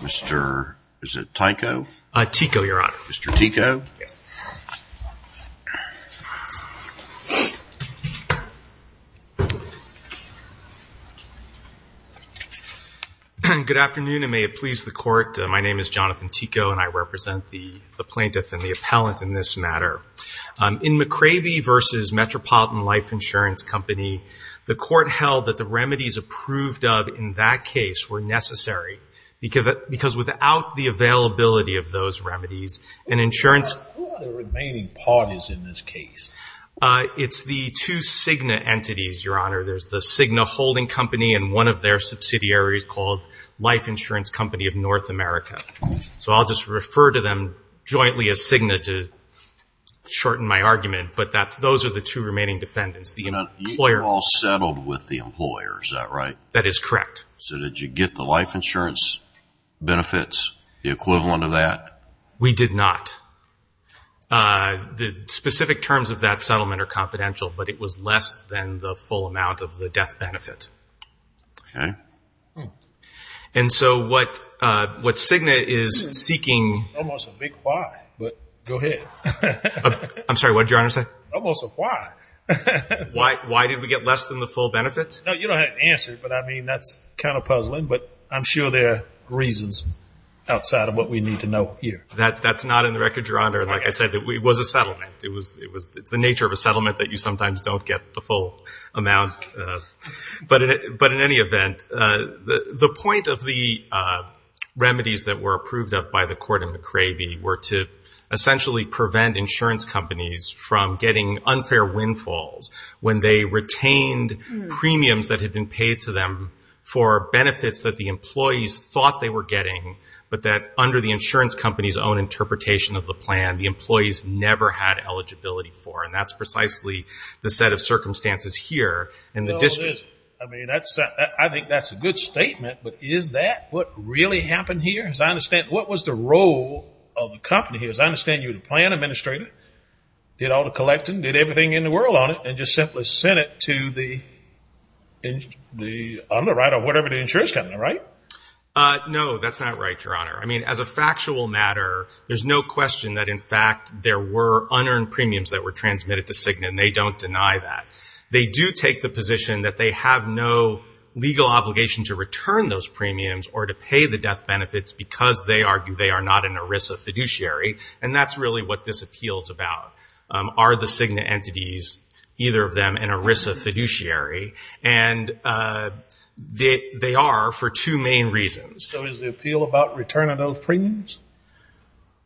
Mr. is it Tyco? Tyco your honor. Mr. Tyco. Good afternoon and may it please the court my name is Jonathan Tyco and I represent the plaintiff and the appellant in this matter. In McCravey versus Metropolitan Life Insurance Company the court held that the remedies approved of in that case were necessary because without the availability of those remedies and insurance it's the two Cigna entities your honor there's the Cigna holding company and one of their subsidiaries called Life Insurance Company of North America so I'll just refer to them jointly as Cigna to shorten my argument but that those are the two remaining defendants. You all settled with the employer is that right? That is correct. So did you get the life insurance benefits the equivalent of that? We did not. The specific terms of that settlement are confidential but it was less than the full amount of the death benefit. Okay. And so what what Cigna is seeking. Almost a big why but go ahead. I'm sorry what did your answer but I mean that's kind of puzzling but I'm sure there are reasons outside of what we need to know here. That that's not in the record your honor and like I said that we was a settlement it was it was it's the nature of a settlement that you sometimes don't get the full amount but in it but in any event the the point of the remedies that were approved of by the court in McCravey were to essentially prevent insurance companies from getting unfair windfalls when they retained premiums that had been paid to them for benefits that the employees thought they were getting but that under the insurance companies own interpretation of the plan the employees never had eligibility for and that's precisely the set of circumstances here in the district. I mean that's I think that's a good statement but is that what really happened here as I understand what was the role of the company here as I understand you the plan administrator did all the collecting did everything in the world on it and just simply sent it to the on the right or whatever the insurance company right? No that's not right your honor I mean as a factual matter there's no question that in fact there were unearned premiums that were transmitted to Cigna and they don't deny that they do take the position that they have no legal obligation to return those premiums or to pay the death benefits because they argue they are not an ERISA fiduciary and that's really what this either of them an ERISA fiduciary and they they are for two main reasons. So is the appeal about return of those premiums?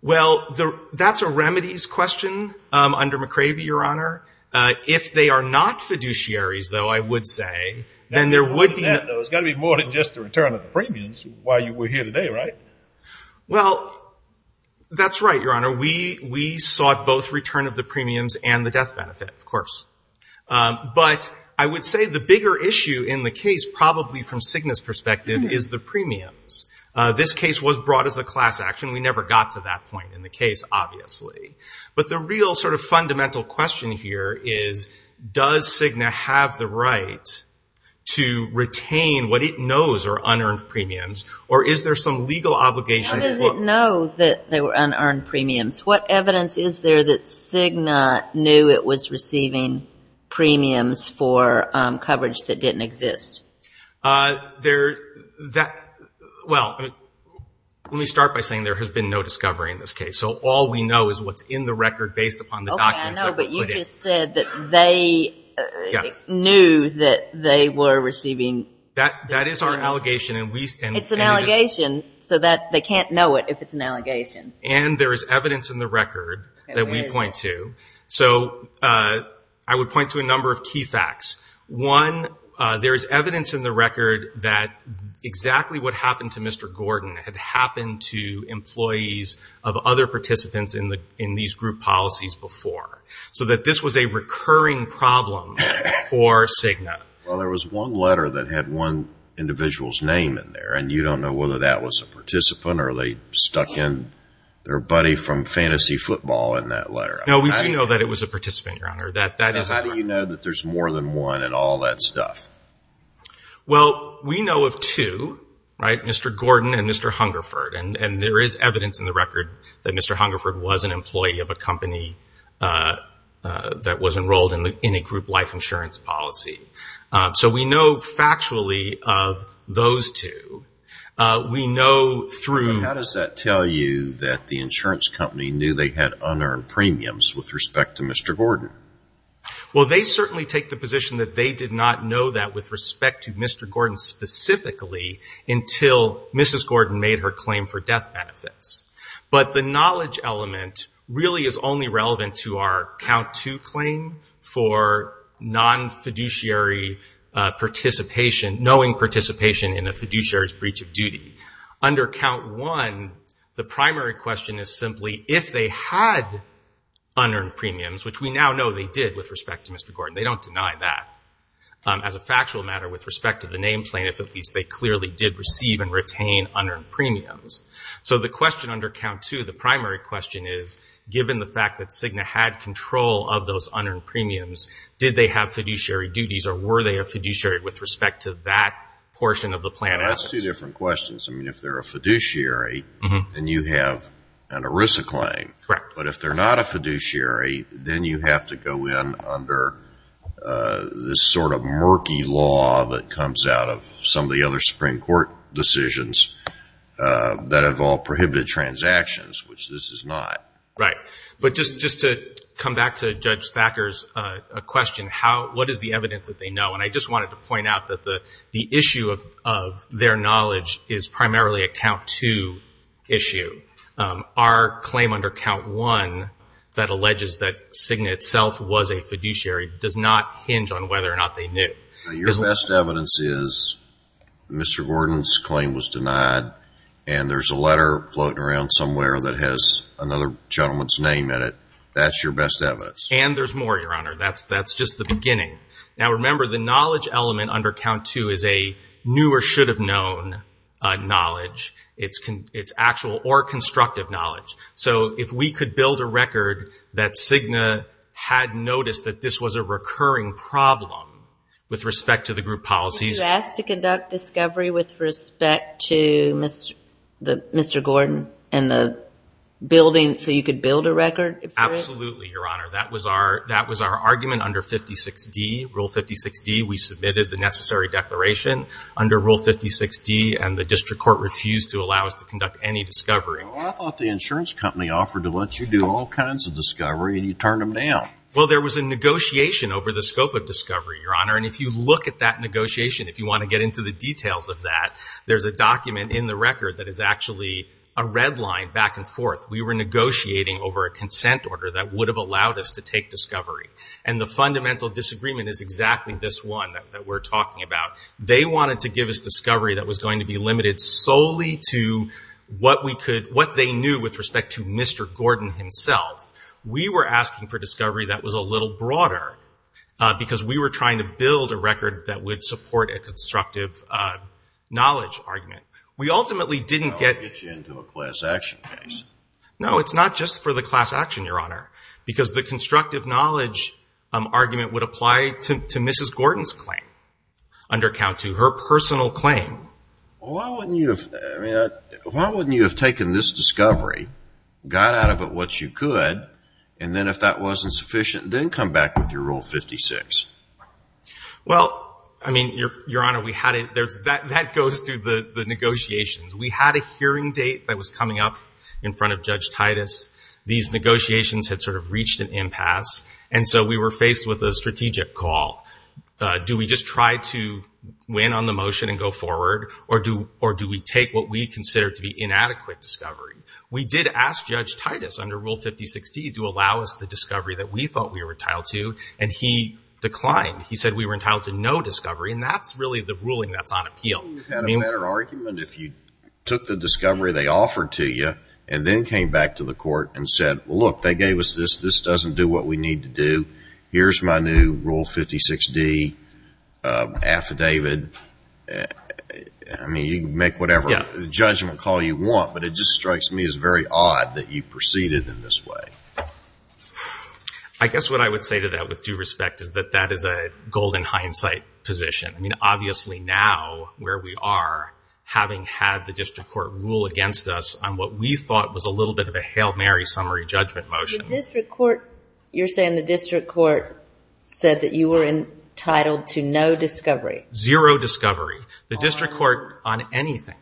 Well the that's a remedies question under McCravey your honor if they are not fiduciaries though I would say then there would be. There's got to be more than just the return of the premiums while you were here today right? Well that's right your honor we we sought both return of the premiums and the death benefit of course but I would say the bigger issue in the case probably from Cigna's perspective is the premiums. This case was brought as a class action we never got to that point in the case obviously but the real sort of fundamental question here is does Cigna have the right to retain what it knows are unearned premiums or is there some legal obligation? How does it know that they were unearned premiums? What evidence is there that Cigna knew it was receiving premiums for coverage that didn't exist? There that well let me start by saying there has been no discovery in this case so all we know is what's in the record based upon the documents that were put in. Okay I know but you just said that they knew that they were receiving. That that is our allegation. It's an allegation so that they can't know it if it's an allegation. And there is evidence in the record that we point to so I would point to a number of key facts. One there is evidence in the record that exactly what happened to Mr. Gordon had happened to employees of other participants in the in these group policies before so that this was a letter that had one individual's name in there and you don't know whether that was a participant or they stuck in their buddy from fantasy football in that letter. No we do know that it was a participant your honor. That that is how do you know that there's more than one and all that stuff? Well we know of two right Mr. Gordon and Mr. Hungerford and and there is evidence in the record that Mr. Hungerford was an employee of a company that was enrolled in the in a factually of those two. We know through. How does that tell you that the insurance company knew they had unearned premiums with respect to Mr. Gordon? Well they certainly take the position that they did not know that with respect to Mr. Gordon specifically until Mrs. Gordon made her claim for death benefits. But the knowledge element really is only relevant to our count to claim for non-fiduciary participation knowing participation in a fiduciary breach of duty. Under count one the primary question is simply if they had unearned premiums which we now know they did with respect to Mr. Gordon. They don't deny that as a factual matter with respect to the name claim if at least they clearly did receive and retain unearned premiums. So the question under count two the primary question is given the fact that Cigna had control of those unearned premiums, did they have fiduciary duties or were they a fiduciary with respect to that portion of the plan? That's two different questions. I mean if they're a fiduciary and you have an ERISA claim. Correct. But if they're not a fiduciary then you have to go in under this sort of murky law that comes out of some of the other Supreme Court decisions that have all prohibited transactions which this is not. Right. But just to come back to Judge Thacker's question, what is the evidence that they know? And I just wanted to point out that the issue of their knowledge is primarily a count two issue. Our claim under count one that alleges that Cigna itself was a fiduciary does not hinge on whether or not they knew. Your best evidence is Mr. Gordon's claim was denied and there's a letter floating around somewhere that has another gentleman's name in it. That's your best evidence. And there's more, Your Honor. That's just the beginning. Now remember the knowledge element under count two is a new or should have known knowledge. It's actual or constructive knowledge. So if we could build a record that Cigna had noticed that this was a recurring problem with respect to the group policies. You asked to conduct discovery with respect to Mr. Gordon and the building so you could build a record? Absolutely, Your Honor. That was our argument under Rule 56D. We submitted the necessary declaration under Rule 56D and the district court refused to allow us to conduct any discovery. I thought the insurance company offered to let you do all kinds of discovery and you turned them down. Well there was a negotiation over the scope of discovery, Your Honor, and if you want to get into the details of that, there's a document in the record that is actually a red line back and forth. We were negotiating over a consent order that would have allowed us to take discovery. And the fundamental disagreement is exactly this one that we're talking about. They wanted to give us discovery that was going to be limited solely to what they knew with respect to Mr. Gordon himself. We were asking for discovery that was a little broader because we were trying to build a record that would support a constructive knowledge argument. We ultimately didn't get... That would get you into a class action case. No, it's not just for the class action, Your Honor, because the constructive knowledge argument would apply to Mrs. Gordon's claim under Count II, her personal claim. Well, why wouldn't you have taken this discovery, got out of it what you could, and then if that wasn't sufficient, then come back with your Rule 56? Well, I mean, Your Honor, we had... That goes through the negotiations. We had a hearing date that was coming up in front of Judge Titus. These negotiations had sort of reached an impasse, and so we were faced with a strategic call. Do we just try to win on the motion and go forward, or do we take what we consider to be inadequate discovery? We did ask Judge Titus under Rule 56D to allow us the discovery that we thought we were entitled to, and he declined. He said we were entitled to no discovery, and that's really the ruling that's on appeal. You had a better argument if you took the discovery they offered to you and then came back to the court and said, look, they gave us this. This doesn't do what we need to do. Here's my new Rule 56D affidavit. I mean, you can make whatever judgment call you want, but it just strikes me as very odd that you proceeded in this way. I guess what I would say to that with due respect is that that is a golden hindsight position. I mean, obviously now, where we are, having had the District Court rule against us on what we thought was a little bit of a Hail Mary summary judgment motion... The District Court... You're saying the District Court said that you were entitled to no discovery? Zero discovery. The District Court on anything.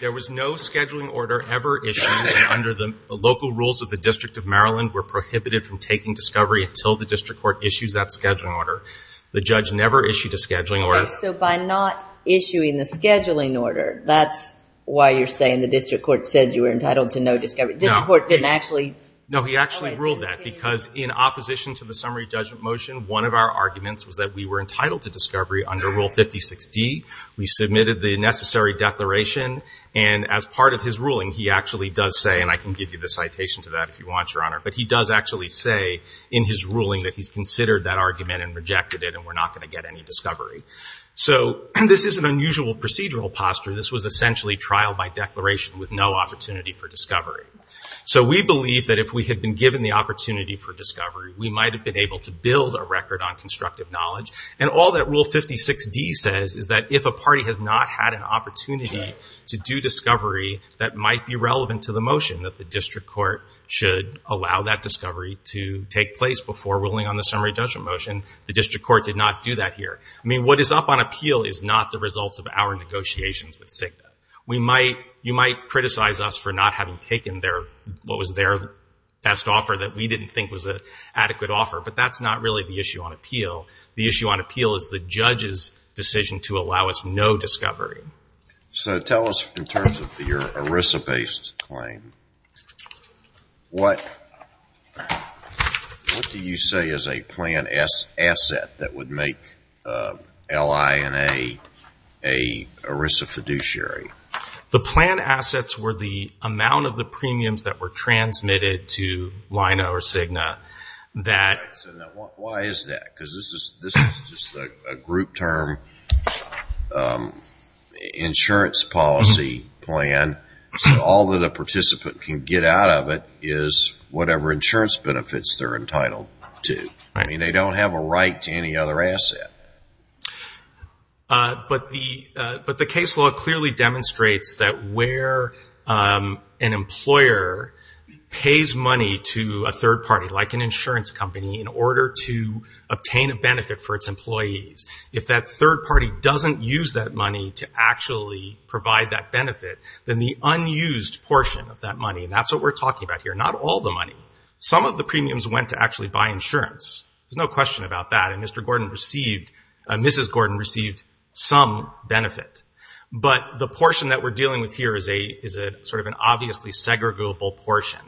There was no scheduling order ever issued under the local rules of the District of Maryland were prohibited from taking discovery until the District Court issues that scheduling order. The judge never issued a scheduling order. So by not issuing the scheduling order, that's why you're saying the District Court said you were entitled to no discovery. The District Court didn't actually... No, he actually ruled that because in opposition to the summary judgment motion, one of our arguments was that we were entitled to discovery under Rule 56D. We submitted the necessary declaration, and as part of his ruling, he actually does say, and I can give you the citation to that if you want, Your Honor, but he does actually say in his ruling that he's considered that argument and rejected it, and we're not going to get any discovery. So this is an unusual procedural posture. This was essentially trial by declaration with no opportunity for discovery. So we believe that if we had been given the opportunity for discovery, we might have been able to build a record on constructive knowledge. And all that Rule 56D says is that if a party has not had an opportunity to do discovery that might be relevant to the motion, that the District Court should allow that discovery to take place before ruling on the summary judgment motion. The District Court did not do that here. I mean, what is up on appeal is not the results of our negotiations with CIGNA. We might, you might criticize us for not having taken their, what was their best offer that we didn't think was an adequate offer, but that's not really the judge's decision to allow us no discovery. So tell us in terms of your ERISA-based claim, what do you say is a plan asset that would make LI&A a ERISA fiduciary? The plan assets were the amount of the premiums that were transmitted to LINO or CIGNA that were provided. Why is that? Because this is just a group term insurance policy plan. So all that a participant can get out of it is whatever insurance benefits they're entitled to. I mean, they don't have a right to any other asset. But the case law clearly demonstrates that where an employer pays money to a third party, like an insurance company, in order to obtain a benefit for its employees, if that third party doesn't use that money to actually provide that benefit, then the unused portion of that money, and that's what we're talking about here, not all the money, some of the premiums went to actually buy insurance. There's no question about that. And Mr. Gordon received, Mrs. Gordon received some benefit. But the portion that we're dealing with here is sort of an obviously segregable portion.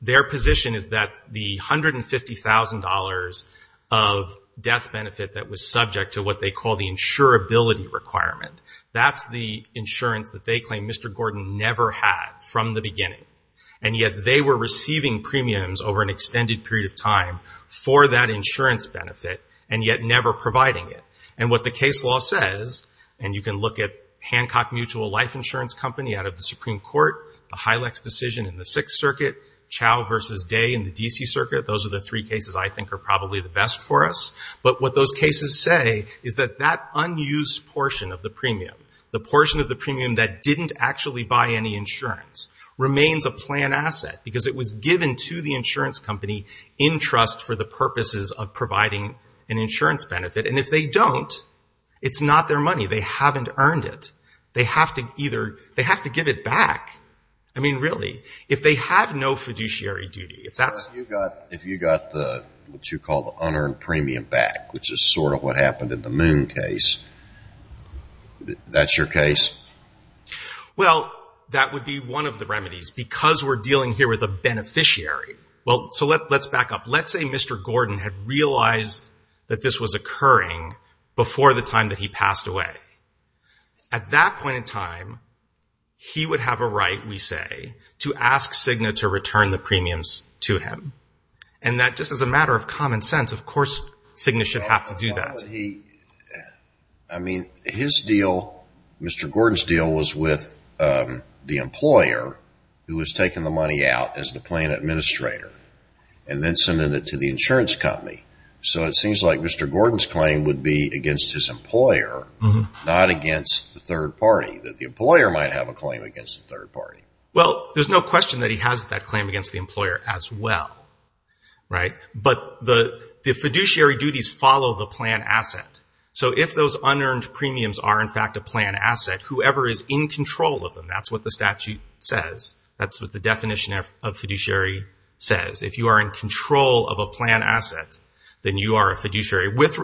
Their position is that the $150,000 of death benefit that was subject to what they call the insurability requirement, that's the insurance that they claim Mr. Gordon never had from the beginning. And yet they were receiving premiums over an extended period of time for that insurance benefit, and yet never providing it. And what the case law says, and you can look at Hancock Mutual Life Insurance Company out of the Supreme Court, the Hylex decision in the Sixth Circuit, Chao versus Day in the D.C. Circuit, those are the three cases I think are probably the best for us. But what those cases say is that that unused portion of the premium, the portion of the premium that didn't actually buy any insurance, remains a planned asset because it was given to the insurance company in trust for the purposes of providing an insurance benefit. And if they don't, it's not their money. They haven't earned it. They have to either, they have to give it back. I mean, really. If they have no fiduciary duty, if that's... If you got what you call the unearned premium back, which is sort of what happened in the Moon case, that's your case? Well, that would be one of the remedies because we're dealing here with a beneficiary. Well, so let's back up. Let's say Mr. Gordon had realized that this was occurring before the time that he passed away. At that point in time, he would have a right, we say, to ask Cigna to return the premiums to him. And that just as a matter of common sense, of course, Cigna should have to do that. I mean, his deal, Mr. Gordon's deal, was with the employer who was taking the money out as the plan administrator and then sending it to the insurance company. So it seems like Mr. Gordon's claim would be against his employer, not against the third party, that the employer might have a claim against the third party. Well, there's no question that he has that claim against the employer as well, right? But the fiduciary duties follow the plan asset. So if those unearned premiums are in fact a plan asset, whoever is in control of them, that's what the statute says. That's what the definition of fiduciary says. If you are in control of a plan asset, then you are a fiduciary with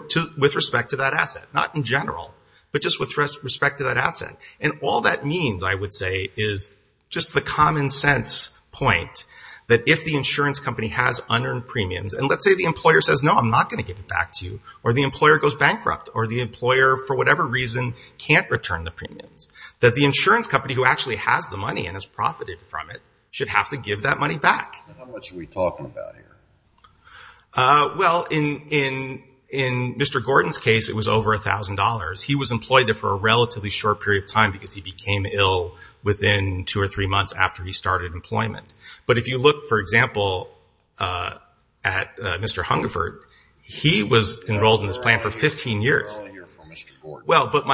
respect to that asset, not in general, but just with respect to that asset. And all that means, I would say, is just the common sense point that if the insurance company has unearned premiums, and let's say the employer says, no, I'm not going to give it back to you, or the employer goes bankrupt, or the employer, for whatever reason, can't return the premiums, that the insurance company who actually has the money and has profited from it should have to give that money back. And how much are we talking about here? Well, in Mr. Gordon's case, it was over $1,000. He was employed there for a relatively short period of time because he became ill within two or three months after he started employment. But if you look, for example, at Mr. Hungerford, he was enrolled in this plan for 15 years. You're only here for Mr. Gordon. Well, but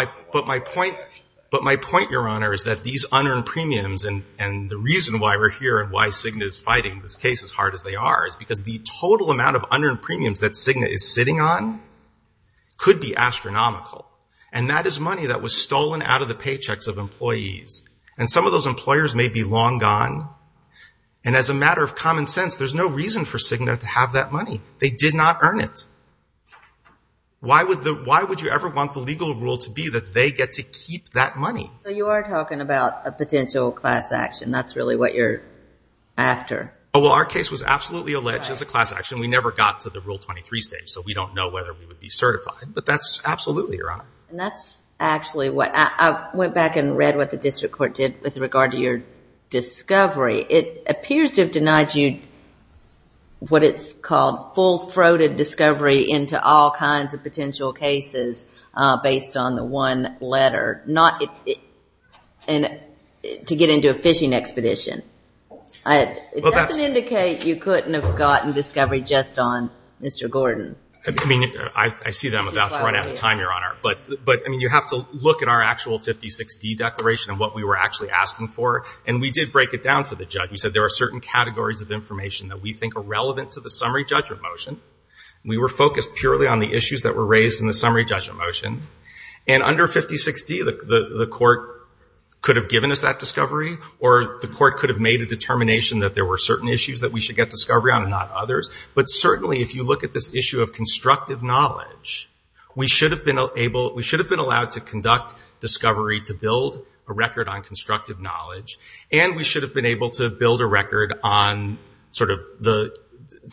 my point, Your Honor, is that these unearned premiums, and the reason I'm making this case as hard as they are, is because the total amount of unearned premiums that Cigna is sitting on could be astronomical. And that is money that was stolen out of the paychecks of employees. And some of those employers may be long gone. And as a matter of common sense, there's no reason for Cigna to have that money. They did not earn it. Why would you ever want the legal rule to be that they get to keep that money? So you are talking about a potential class action. That's really what you're after. Well, our case was absolutely alleged as a class action. We never got to the Rule 23 stage, so we don't know whether we would be certified. But that's absolutely right. And that's actually what I went back and read what the district court did with regard to your discovery. It appears to have denied you what it's called full-throated discovery into all kinds of potential cases based on the one letter, not to get into a fishing expedition. It doesn't indicate you couldn't have gotten discovery just on Mr. Gordon. I mean, I see that I'm about to run out of time, Your Honor. But you have to look at our actual 56D declaration and what we were actually asking for. And we did break it down for the judge. We said there are certain categories of information that we think are relevant to the summary judgment motion. We were focused purely on the issues that were raised in the summary judgment motion. And under 56D, the court could have given us that discovery, or the court could have made a determination that there were certain issues that we should get discovery on and not others. But certainly, if you look at this issue of constructive knowledge, we should have been allowed to conduct discovery to build a record on constructive knowledge. And we should have been able to build a record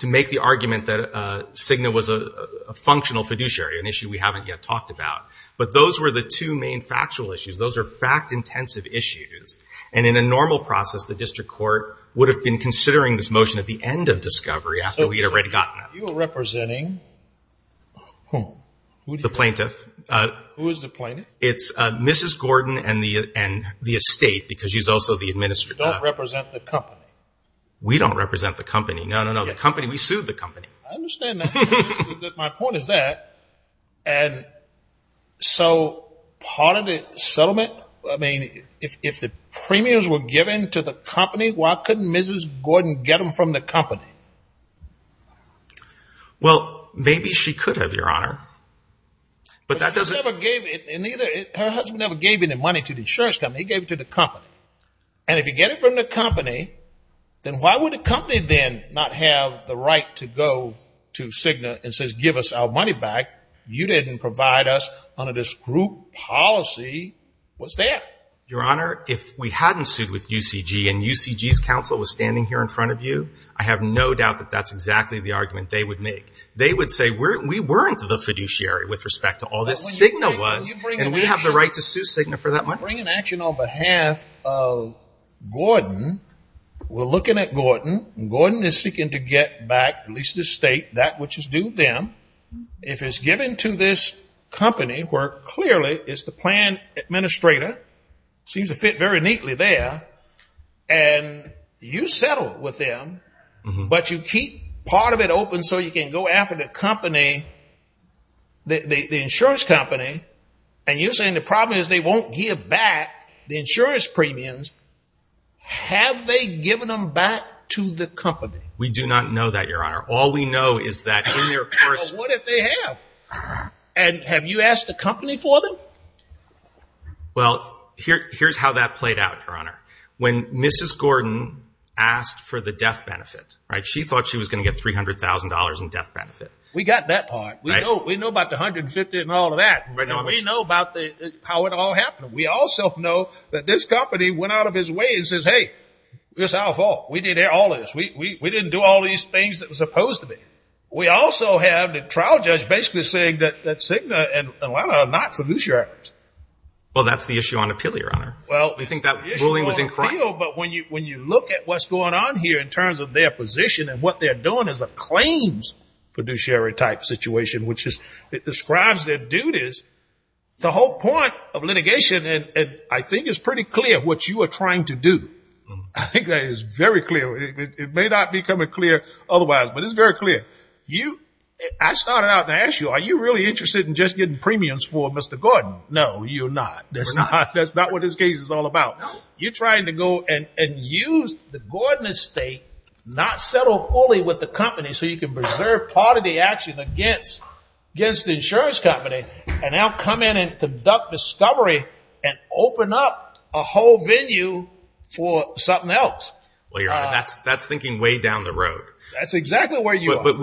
to make the argument that Cigna was a functional fiduciary, an issue we haven't yet talked about. But those were the two main factual issues. Those are fact-intensive issues. And in a normal process, the district court would have been considering this motion at the end of discovery after we had already gotten it. You were representing whom? The plaintiff. Who is the plaintiff? It's Mrs. Gordon and the estate, because she's also the administrator. You don't represent the company. We don't represent the company. No, no, no. The company, we sued the company. I understand that. My point is that. And so part of the settlement, I mean, if the premiums were given to the company, why couldn't Mrs. Gordon get them from the company? Well, maybe she could have, Your Honor. But that doesn't... But she never gave it, and her husband never gave any money to the insurance company. He gave it to the company. And if you get it from the company, then why would the company then not have the right to go to Cigna and says, give us our money back? You didn't provide us under this group policy. What's that? Your Honor, if we hadn't sued with UCG and UCG's counsel was standing here in front of you, I have no doubt that that's exactly the argument they would make. They would say, we weren't the fiduciary with respect to all this. Cigna was, and we have the right to sue Cigna for that money. I'm bringing action on behalf of Gordon. We're looking at Gordon. Gordon is seeking to get back at least his estate, that which is due them. If it's given to this company, where clearly it's the plan administrator, seems to fit very neatly there, and you settle with them, but you keep part of it open so you can go after the company, the insurance company, and you're saying the problem is they won't give back the insurance premiums. Have they given them back to the company? We do not know that, Your Honor. All we know is that in their course... But what if they have? And have you asked the company for them? Well, here's how that played out, Your Honor. When Mrs. Gordon asked for the death benefit, she thought she was going to get $300,000 in death benefit. We got that part. We know about the $150,000 and all of that. We know about how it all happened. We also know that this company went out of its way and says, hey, it's our fault. We did all this. We didn't do all these things that were supposed to be. We also have the trial judge basically saying that Cigna and Atlanta are not fiduciaries. Well, that's the issue on appeal, Your Honor. Well, the issue on appeal, but when you look at what's going on here in terms of their position and what they're doing as a claims fiduciary type situation, which describes their duties, the whole point of litigation, I think, is pretty clear what you are trying to do. I think that is very clear. It may not become clear otherwise, but it's very clear. I started out to ask you, are you really interested in just getting premiums for Mr. Gordon? No, you're not. That's not what this case is all about. You're trying to go and use the Gordon estate, not settle fully with the company, so you can preserve part of the action against the insurance company, and now come in and conduct discovery and open up a whole venue for something else. Well, Your Honor, that's thinking way down the road. That's exactly where you are. But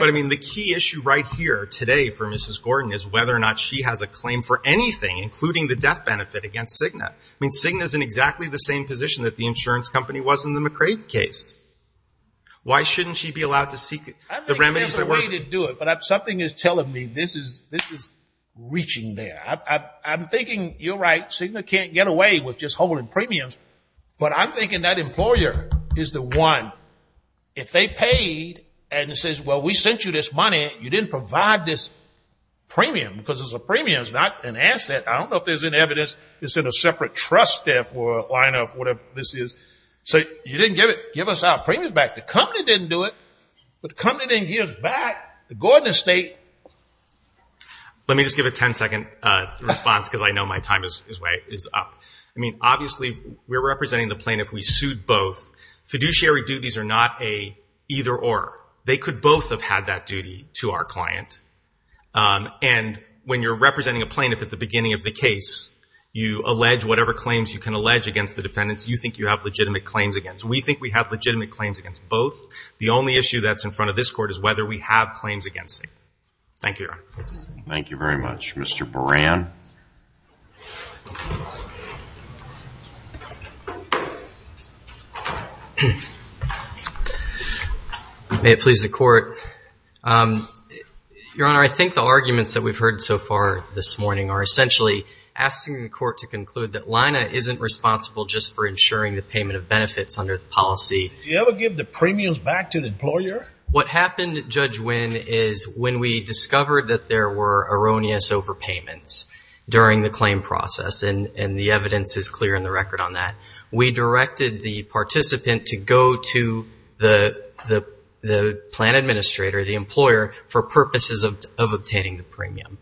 I mean, the key issue right here today for Mrs. Gordon is whether or not she has a claim for anything, including the death benefit against Cigna. I mean, Cigna is in exactly the same position that the insurance company was in the McCrave case. Why shouldn't she be allowed to seek the remedies that work? I think she has a way to do it, but something is telling me this is reaching there. I'm thinking, you're right, Cigna can't get away with just holding premiums, but I'm thinking that employer is the one, if they paid and says, well, we sent you this money, you didn't provide this premium because it's a premium, it's not an asset. I don't know if there's any evidence it's in a separate trust there for a line of whatever this is. So you didn't give us our premiums back. The company didn't do it, but the company didn't give us back the Gordon estate. Let me just give a ten-second response because I know my time is up. I mean, obviously, we're representing the plaintiff. We sued both. Fiduciary duties are not a either-or. They could both have had that duty to our client. And when you're representing a plaintiff at the beginning of the case, you allege whatever claims you can allege against the defendants you think you have legitimate claims against. We think we have legitimate claims against both. The only issue that's in front of this Court is whether we have claims against it. Thank you, Your Honor. Thank you very much. Mr. Buran. May it please the Court. Your Honor, I think the arguments that we've heard so far this morning are essentially asking the Court to conclude that Lina isn't responsible just for ensuring the payment of benefits under the policy. Did you ever give the premiums back to the employer? What happened, Judge Winn, is when we discovered that there were erroneous overpayments, during the claim process, and the evidence is clear in the record on that, we directed the participant to go to the plan administrator, the employer, for purposes of obtaining the premium.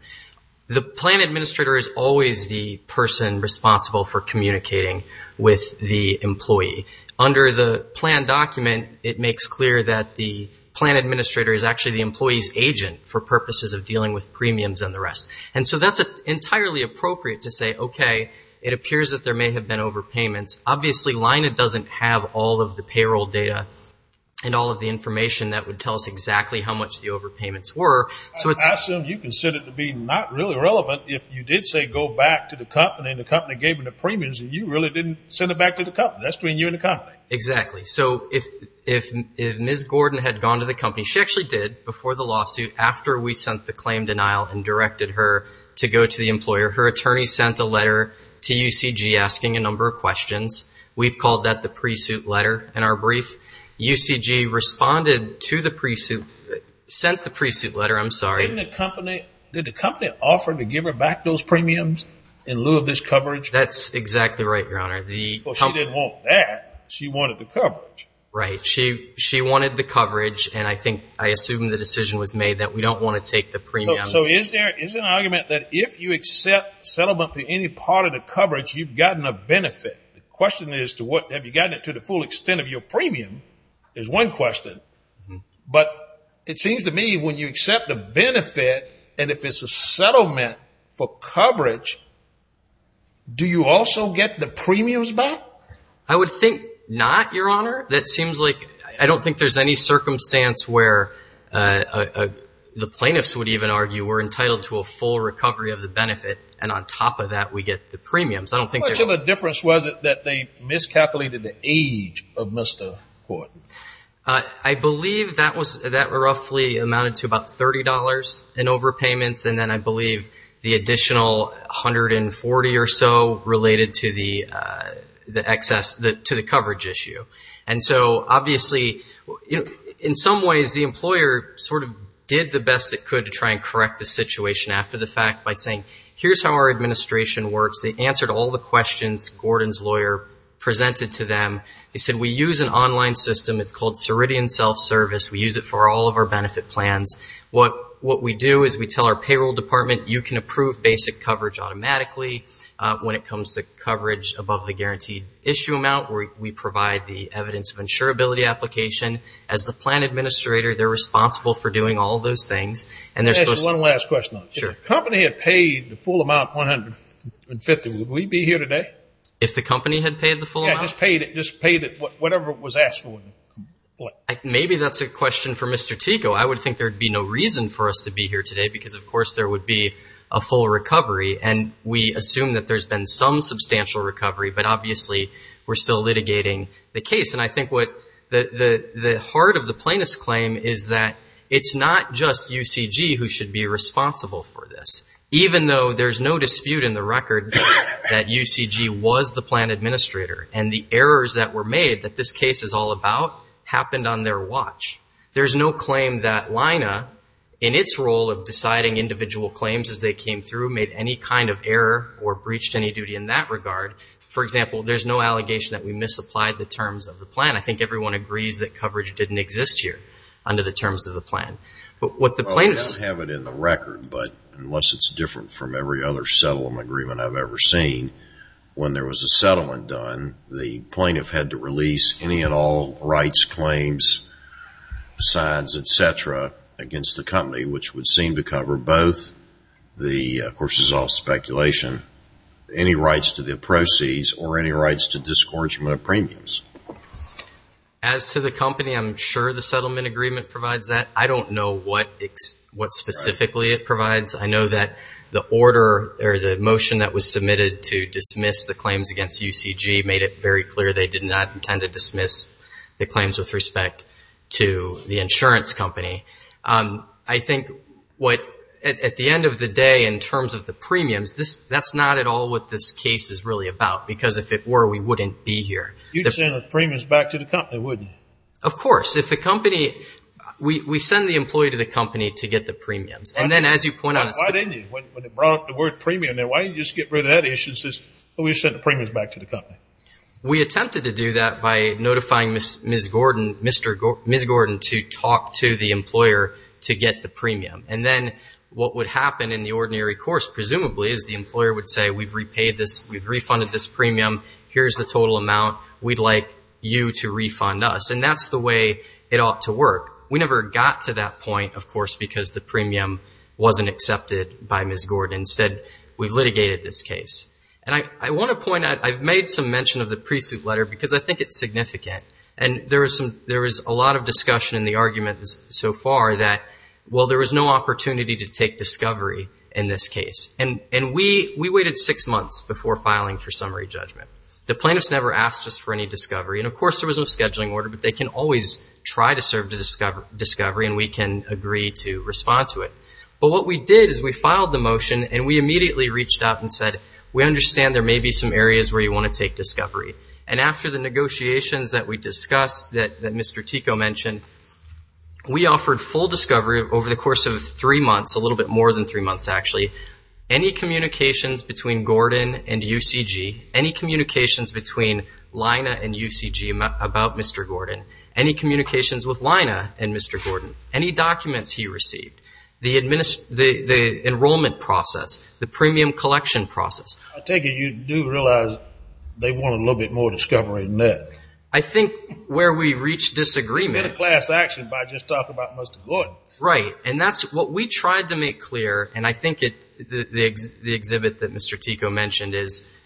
The plan administrator is always the person responsible for communicating with the employee. Under the plan document, it makes clear that the plan administrator is actually the employee's agent for purposes of dealing with premiums and the rest. And so that's entirely appropriate to say, okay, it appears that there may have been overpayments. Obviously, Lina doesn't have all of the payroll data and all of the information that would tell us exactly how much the overpayments were. I assume you consider it to be not really relevant if you did say go back to the company and the company gave them the premiums and you really didn't send it back to the company. That's between you and the company. Exactly. So if Ms. Gordon had gone to the company, she actually did, before the lawsuit, after we sent the claim denial and directed her to go to the employer, her attorney sent a letter to UCG asking a number of questions. We've called that the pre-suit letter. In our brief, UCG responded to the pre-suit, sent the pre-suit letter. I'm sorry. Didn't the company, did the company offer to give her back those premiums in lieu of this coverage? That's exactly right, Your Honor. Well, she didn't want that. She wanted the coverage. Right. And I think, I assume the decision was made that we don't want to take the premiums. So is there, is there an argument that if you accept settlement for any part of the coverage, you've gotten a benefit? The question is to what, have you gotten it to the full extent of your premium is one question. But it seems to me when you accept a benefit and if it's a settlement for coverage, do you also get the premiums back? I would think not, Your Honor. That seems like, I don't think there's any circumstance where the plaintiffs would even argue we're entitled to a full recovery of the benefit and on top of that we get the premiums. How much of a difference was it that they miscalculated the age of Mr. Horton? I believe that was, that roughly amounted to about $30 in overpayments and then I believe the additional $140 or so related to the excess, to the coverage issue. And so obviously, you know, in some ways the employer sort of did the best it could to try and correct the situation after the fact by saying here's how our administration works. They answered all the questions Gordon's lawyer presented to them. They said we use an online system. It's called Ceridian Self-Service. We use it for all of our benefit plans. What we do is we tell our payroll department you can approve basic coverage automatically when it comes to coverage above the guaranteed issue amount. We provide the evidence of insurability application. As the plan administrator, they're responsible for doing all those things. Let me ask you one last question. Sure. If the company had paid the full amount, $150, would we be here today? If the company had paid the full amount? Yeah, just paid it, whatever it was asked for. Maybe that's a question for Mr. Tico. I would think there would be no reason for us to be here today because, of course, there would be a full recovery, and we assume that there's been some substantial recovery, but obviously we're still litigating the case. And I think what the heart of the plaintiff's claim is that it's not just UCG who should be responsible for this, even though there's no dispute in the record that UCG was the plan administrator and the errors that were made that this case is all about happened on their watch. There's no claim that LINA, in its role of deciding individual claims as they came through, made any kind of error or breached any duty in that regard. For example, there's no allegation that we misapplied the terms of the plan. I think everyone agrees that coverage didn't exist here under the terms of the plan. Well, we don't have it in the record, but unless it's different from every other settlement agreement I've ever seen, when there was a settlement done, the plaintiff had to release any and all rights, claims, signs, et cetera, against the company, which would seem to cover both the courses of speculation, any rights to the proceeds, or any rights to discouragement of premiums. As to the company, I'm sure the settlement agreement provides that. I don't know what specifically it provides. I know that the order or the motion that was submitted to dismiss the claims against UCG made it very clear they did not intend to dismiss the claims with respect to the insurance company. I think what, at the end of the day, in terms of the premiums, that's not at all what this case is really about, because if it were, we wouldn't be here. You'd send the premiums back to the company, wouldn't you? Of course. If the company, we send the employee to the company to get the premiums. Why didn't you? When they brought up the word premium, why didn't you just get rid of that issue and say, well, we sent the premiums back to the company? We attempted to do that by notifying Ms. Gordon to talk to the employer to get the premium. And then what would happen in the ordinary course, presumably, is the employer would say, we've repaid this, we've refunded this premium, here's the total amount, we'd like you to refund us. And that's the way it ought to work. We never got to that point, of course, because the premium wasn't accepted by Ms. Gordon. Instead, we've litigated this case. And I want to point out, I've made some mention of the pre-suit letter because I think it's significant. And there was a lot of discussion in the arguments so far that, well, there was no opportunity to take discovery in this case. And we waited six months before filing for summary judgment. The plaintiffs never asked us for any discovery. And, of course, there was no scheduling order, but they can always try to serve discovery and we can agree to respond to it. But what we did is we filed the motion and we immediately reached out and said, we understand there may be some areas where you want to take discovery. And after the negotiations that we discussed that Mr. Tico mentioned, we offered full discovery over the course of three months, a little bit more than three months, actually. Any communications between Gordon and UCG, any communications between Lina and UCG about Mr. Gordon, any communications with Lina and Mr. Gordon, any documents he received, the enrollment process, the premium collection process. I take it you do realize they want a little bit more discovery than that. I think where we reached disagreement. And a class action by just talking about Mr. Gordon. Right. And that's what we tried to make clear, and I think the exhibit that Mr. Tico mentioned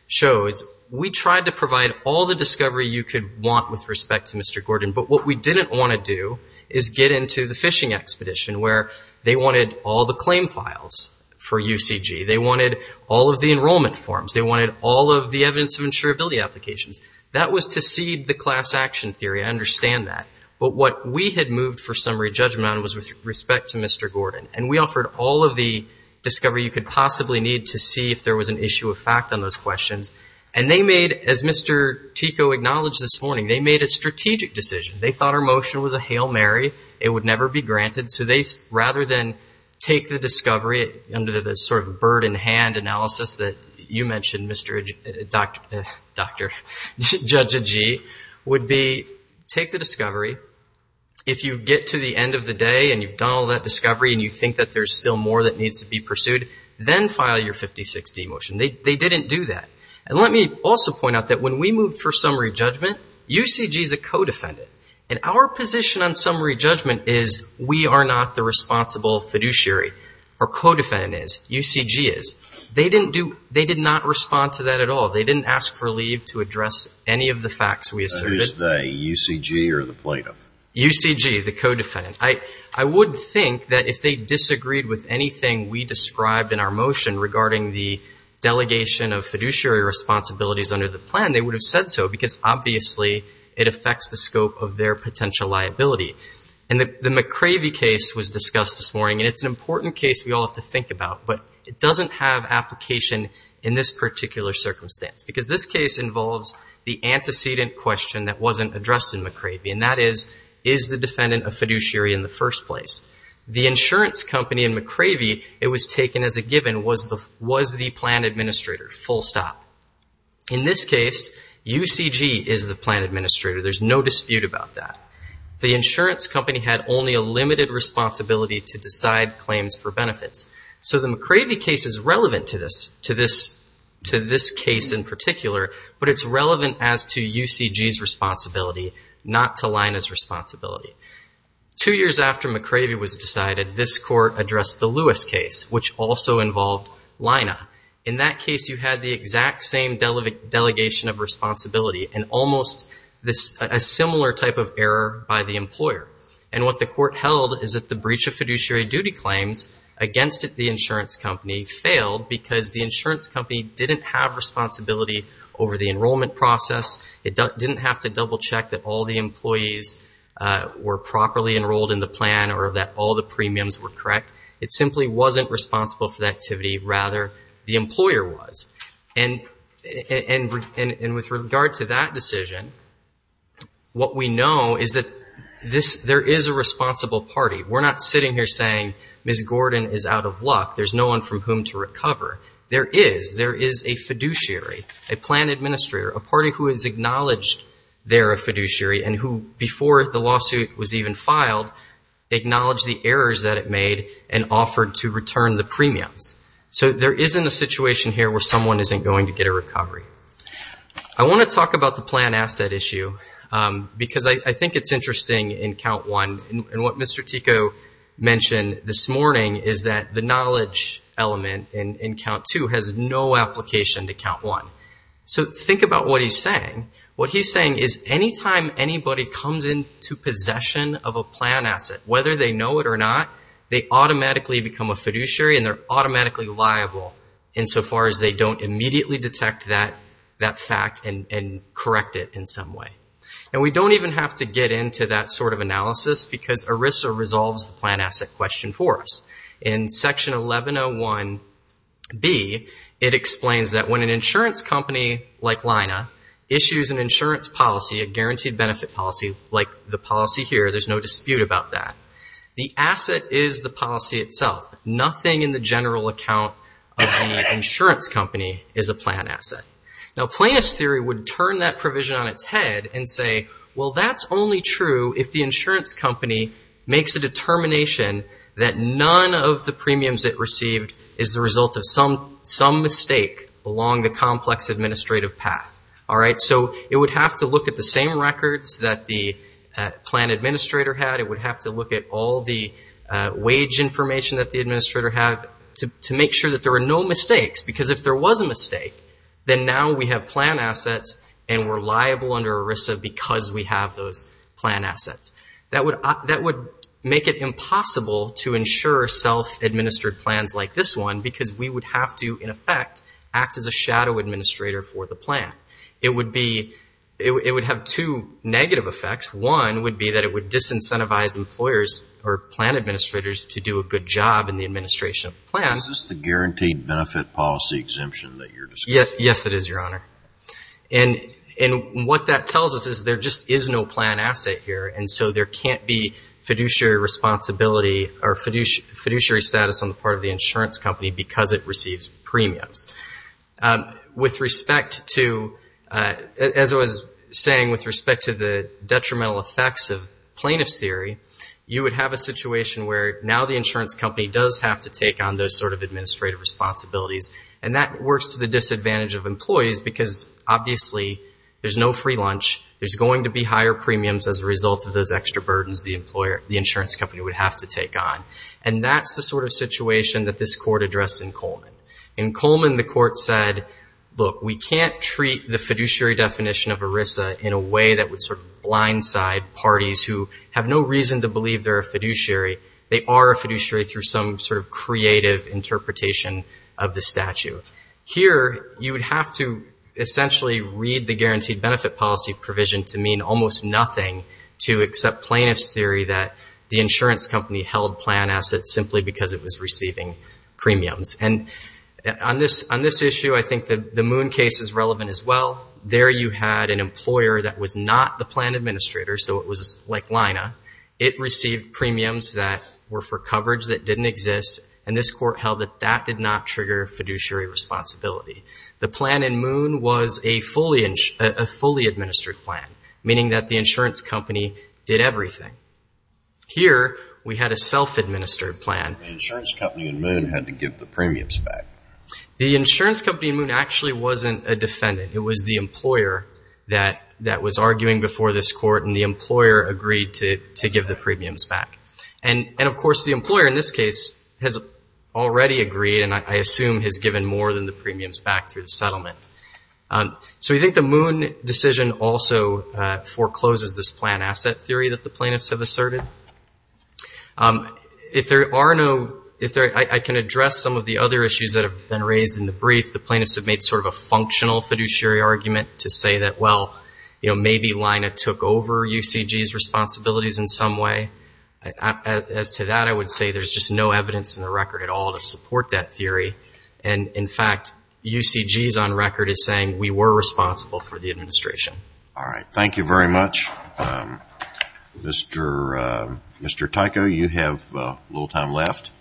shows, we tried to provide all the discovery you could want with respect to Mr. Gordon. But what we didn't want to do is get into the phishing expedition, where they wanted all the claim files for UCG. They wanted all of the enrollment forms. They wanted all of the evidence of insurability applications. That was to seed the class action theory. I understand that. But what we had moved for summary judgment was with respect to Mr. Gordon. And we offered all of the discovery you could possibly need to see if there was an issue of fact on those questions. And they made, as Mr. Tico acknowledged this morning, they made a strategic decision. They thought our motion was a Hail Mary. It would never be granted. So rather than take the discovery under the sort of bird in hand analysis that you mentioned, Dr. Jajaji, would be take the discovery. If you get to the end of the day and you've done all that discovery and you think that there's still more that needs to be pursued, then file your 56D motion. They didn't do that. And let me also point out that when we moved for summary judgment, UCG is a co-defendant. And our position on summary judgment is we are not the responsible fiduciary. Our co-defendant is. UCG is. They didn't do, they did not respond to that at all. They didn't ask for leave to address any of the facts we asserted. Is it the UCG or the plaintiff? UCG, the co-defendant. I would think that if they disagreed with anything we described in our motion regarding the delegation of fiduciary responsibilities under the plan, they would have said so because obviously it affects the scope of their potential liability. And the McCravey case was discussed this morning. And it's an important case we all have to think about. But it doesn't have application in this particular circumstance because this case involves the antecedent question that wasn't addressed in McCravey. And that is, is the defendant a fiduciary in the first place? The insurance company in McCravey, it was taken as a given, was the plan administrator, full stop. In this case, UCG is the plan administrator. There's no dispute about that. So the McCravey case is relevant to this case in particular, but it's relevant as to UCG's responsibility, not to Lina's responsibility. Two years after McCravey was decided, this court addressed the Lewis case, which also involved Lina. In that case, you had the exact same delegation of responsibility and almost a similar type of error by the employer. And what the court held is that the breach of fiduciary duty claims against the insurance company failed because the insurance company didn't have responsibility over the enrollment process. It didn't have to double check that all the employees were properly enrolled in the plan or that all the premiums were correct. It simply wasn't responsible for that activity. Rather, the employer was. And with regard to that decision, what we know is that there is a responsible party. We're not sitting here saying Ms. Gordon is out of luck. There's no one from whom to recover. There is. There is a fiduciary, a plan administrator, a party who has acknowledged they're a fiduciary and who, before the lawsuit was even filed, acknowledged the errors that it made and offered to return the premiums. So there isn't a situation here where someone isn't going to get a recovery. I want to talk about the plan asset issue because I think it's interesting in Count 1. And what Mr. Tico mentioned this morning is that the knowledge element in Count 2 has no application to Count 1. So think about what he's saying. What he's saying is anytime anybody comes into possession of a plan asset, whether they know it or not, they automatically become a fiduciary and they're automatically liable insofar as they don't immediately detect that fact and correct it in some way. And we don't even have to get into that sort of analysis because ERISA resolves the plan asset question for us. In Section 1101B, it explains that when an insurance company like Lina issues an insurance policy, a guaranteed benefit policy like the policy here, there's no dispute about that. The asset is the policy itself. Nothing in the general account of the insurance company is a plan asset. Now, plaintiff's theory would turn that provision on its head and say, well, that's only true if the insurance company makes a determination that none of the premiums it received is the result of some mistake along the complex administrative path. So it would have to look at the same records that the plan administrator had. It would have to look at all the wage information that the administrator had to make sure that there were no mistakes because if there was a mistake, then now we have plan assets and we're liable under ERISA because we have those plan assets. That would make it impossible to ensure self-administered plans like this one because we would have to, in effect, act as a shadow administrator for the plan. It would have two negative effects. One would be that it would disincentivize employers or plan administrators to do a good job in the administration of the plan. Is this the guaranteed benefit policy exemption that you're discussing? Yes, it is, Your Honor. And what that tells us is there just is no plan asset here, and so there can't be fiduciary responsibility or fiduciary status on the part of the insurance company because it receives premiums. With respect to, as I was saying, with respect to the detrimental effects of plaintiff's theory, you would have a situation where now the insurance company does have to take on those sort of administrative responsibilities, and that works to the disadvantage of employees because, obviously, there's no free lunch. There's going to be higher premiums as a result of those extra burdens the insurance company would have to take on, and that's the sort of situation that this Court addressed in Coleman. In Coleman, the Court said, look, we can't treat the fiduciary definition of ERISA in a way that would sort of blindside parties who have no reason to believe they're a fiduciary. They are a fiduciary through some sort of creative interpretation of the statute. Here, you would have to essentially read the guaranteed benefit policy provision to mean almost nothing to accept plaintiff's theory that the insurance company held plan assets simply because it was receiving premiums. And on this issue, I think the Moon case is relevant as well. There you had an employer that was not the plan administrator, so it was like Lina. It received premiums that were for coverage that didn't exist, and this Court held that that did not trigger fiduciary responsibility. The plan in Moon was a fully administered plan, meaning that the insurance company did everything. Here, we had a self-administered plan. The insurance company in Moon had to give the premiums back. The insurance company in Moon actually wasn't a defendant. It was the employer that was arguing before this Court, and the employer agreed to give the premiums back. And, of course, the employer in this case has already agreed and I assume has given more than the premiums back through the settlement. So we think the Moon decision also forecloses this plan asset theory that the plaintiffs have asserted. If there are no – I can address some of the other issues that have been raised in the brief. The plaintiffs have made sort of a functional fiduciary argument to say that, well, maybe Lina took over UCG's responsibilities in some way. As to that, I would say there's just no evidence in the record at all to support that theory. And, in fact, UCG's on record is saying we were responsible for the administration. All right. Thank you very much. Mr. Tyco, you have a little time left.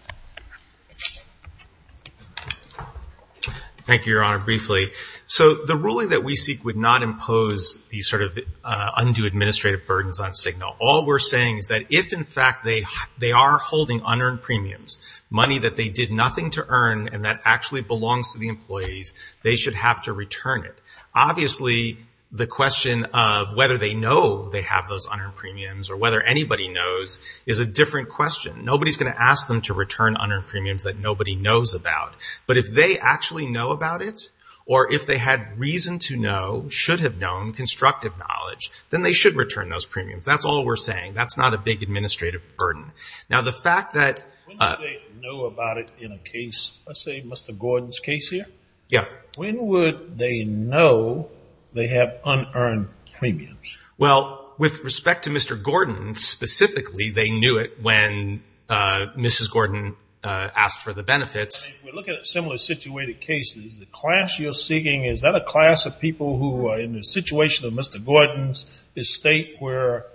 Thank you, Your Honor, briefly. So the ruling that we seek would not impose these sort of undue administrative burdens on Signal. All we're saying is that if, in fact, they are holding unearned premiums, money that they did nothing to earn and that actually belongs to the employees, they should have to return it. Obviously, the question of whether they know they have those unearned premiums or whether anybody knows is a different question. Nobody's going to ask them to return unearned premiums that nobody knows about. But if they actually know about it or if they had reason to know, should have known constructive knowledge, then they should return those premiums. That's all we're saying. That's not a big administrative burden. Now, the fact that – When would they know about it in a case, let's say Mr. Gordon's case here? Yeah. When would they know they have unearned premiums? Well, with respect to Mr. Gordon specifically, they knew it when Mrs. Gordon asked for the benefits. If we look at similar situated cases, the class you're seeking, is that a class of people who are in the situation of Mr. Gordon's estate where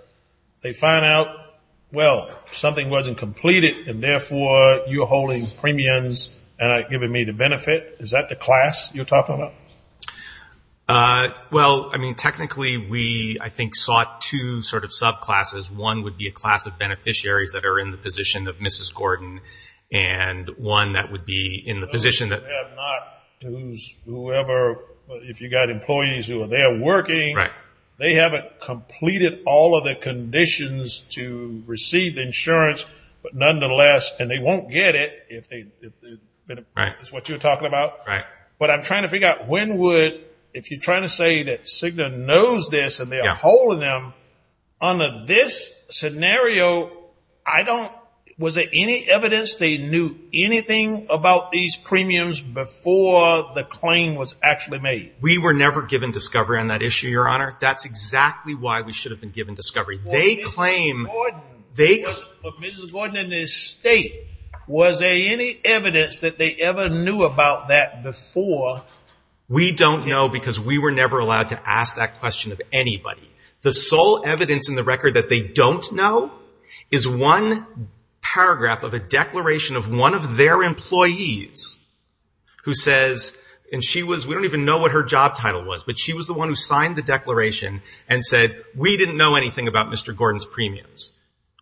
they find out, well, something wasn't completed and, therefore, you're holding premiums and not giving me the benefit? Is that the class you're talking about? Well, I mean, technically, we, I think, sought two sort of subclasses. One would be a class of beneficiaries that are in the position of Mrs. Gordon and one that would be in the position that – Whoever, if you've got employees who are there working, they haven't completed all of the conditions to receive insurance, but, nonetheless, and they won't get it if it's what you're talking about. But I'm trying to figure out when would, if you're trying to say that Cigna knows this and they're holding them, under this scenario, I don't, was there any evidence they knew anything about these premiums before the claim was actually made? We were never given discovery on that issue, Your Honor. That's exactly why we should have been given discovery. Well, Mrs. Gordon and the state, was there any evidence that they ever knew about that before? We don't know because we were never allowed to ask that question of anybody. The sole evidence in the record that they don't know is one paragraph of a declaration of one of their employees who says, and she was, we don't even know what her job title was, but she was the one who signed the declaration and said, we didn't know anything about Mr. Gordon's premiums.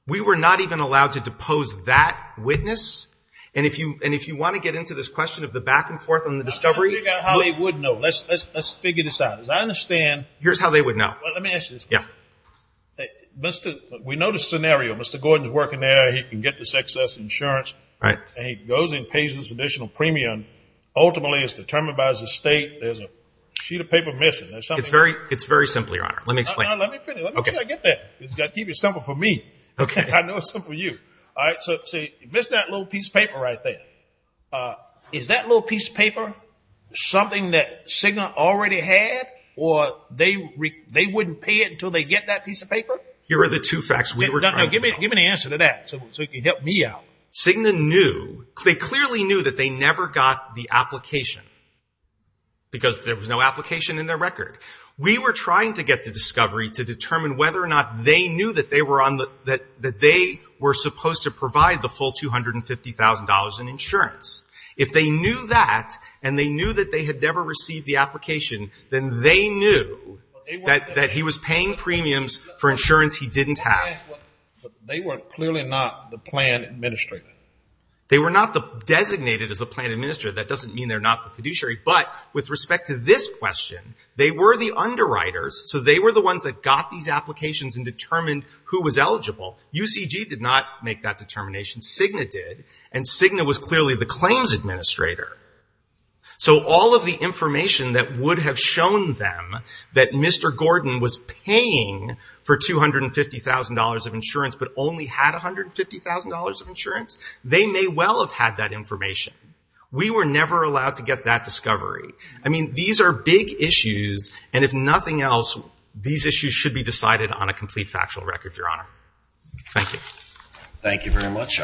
We were not even allowed to depose that witness. And if you want to get into this question of the back and forth on the discovery. I'm trying to figure out how they would know. Let's figure this out. As I understand. Here's how they would know. Well, let me ask you this. Yeah. We know the scenario. Mr. Gordon's working there. He can get this excess insurance. Right. And he goes and pays this additional premium. Ultimately, it's determined by his estate. There's a sheet of paper missing. It's very simple, Your Honor. Let me explain. Let me finish. I get that. You've got to keep it simple for me. I know it's simple for you. All right. So you missed that little piece of paper right there. Is that little piece of paper something that Cigna already had or they wouldn't pay it until they get that piece of paper? Here are the two facts we were trying to figure out. Give me an answer to that so you can help me out. They clearly knew that they never got the application because there was no application in their record. We were trying to get to discovery to determine whether or not they knew that they were supposed to provide the full $250,000 in insurance. If they knew that and they knew that they had never received the application, then they knew that he was paying premiums for insurance he didn't have. They were clearly not the plan administrator. They were not designated as the plan administrator. That doesn't mean they're not the fiduciary. But with respect to this question, they were the underwriters, so they were the ones that got these applications and determined who was eligible. UCG did not make that determination. Cigna did. And Cigna was clearly the claims administrator. So all of the information that would have shown them that Mr. Gordon was paying for $250,000 of insurance but only had $150,000 of insurance, they may well have had that information. We were never allowed to get that discovery. I mean, these are big issues, and if nothing else, these issues should be decided on a complete factual record, Your Honor. Thank you. Thank you very much.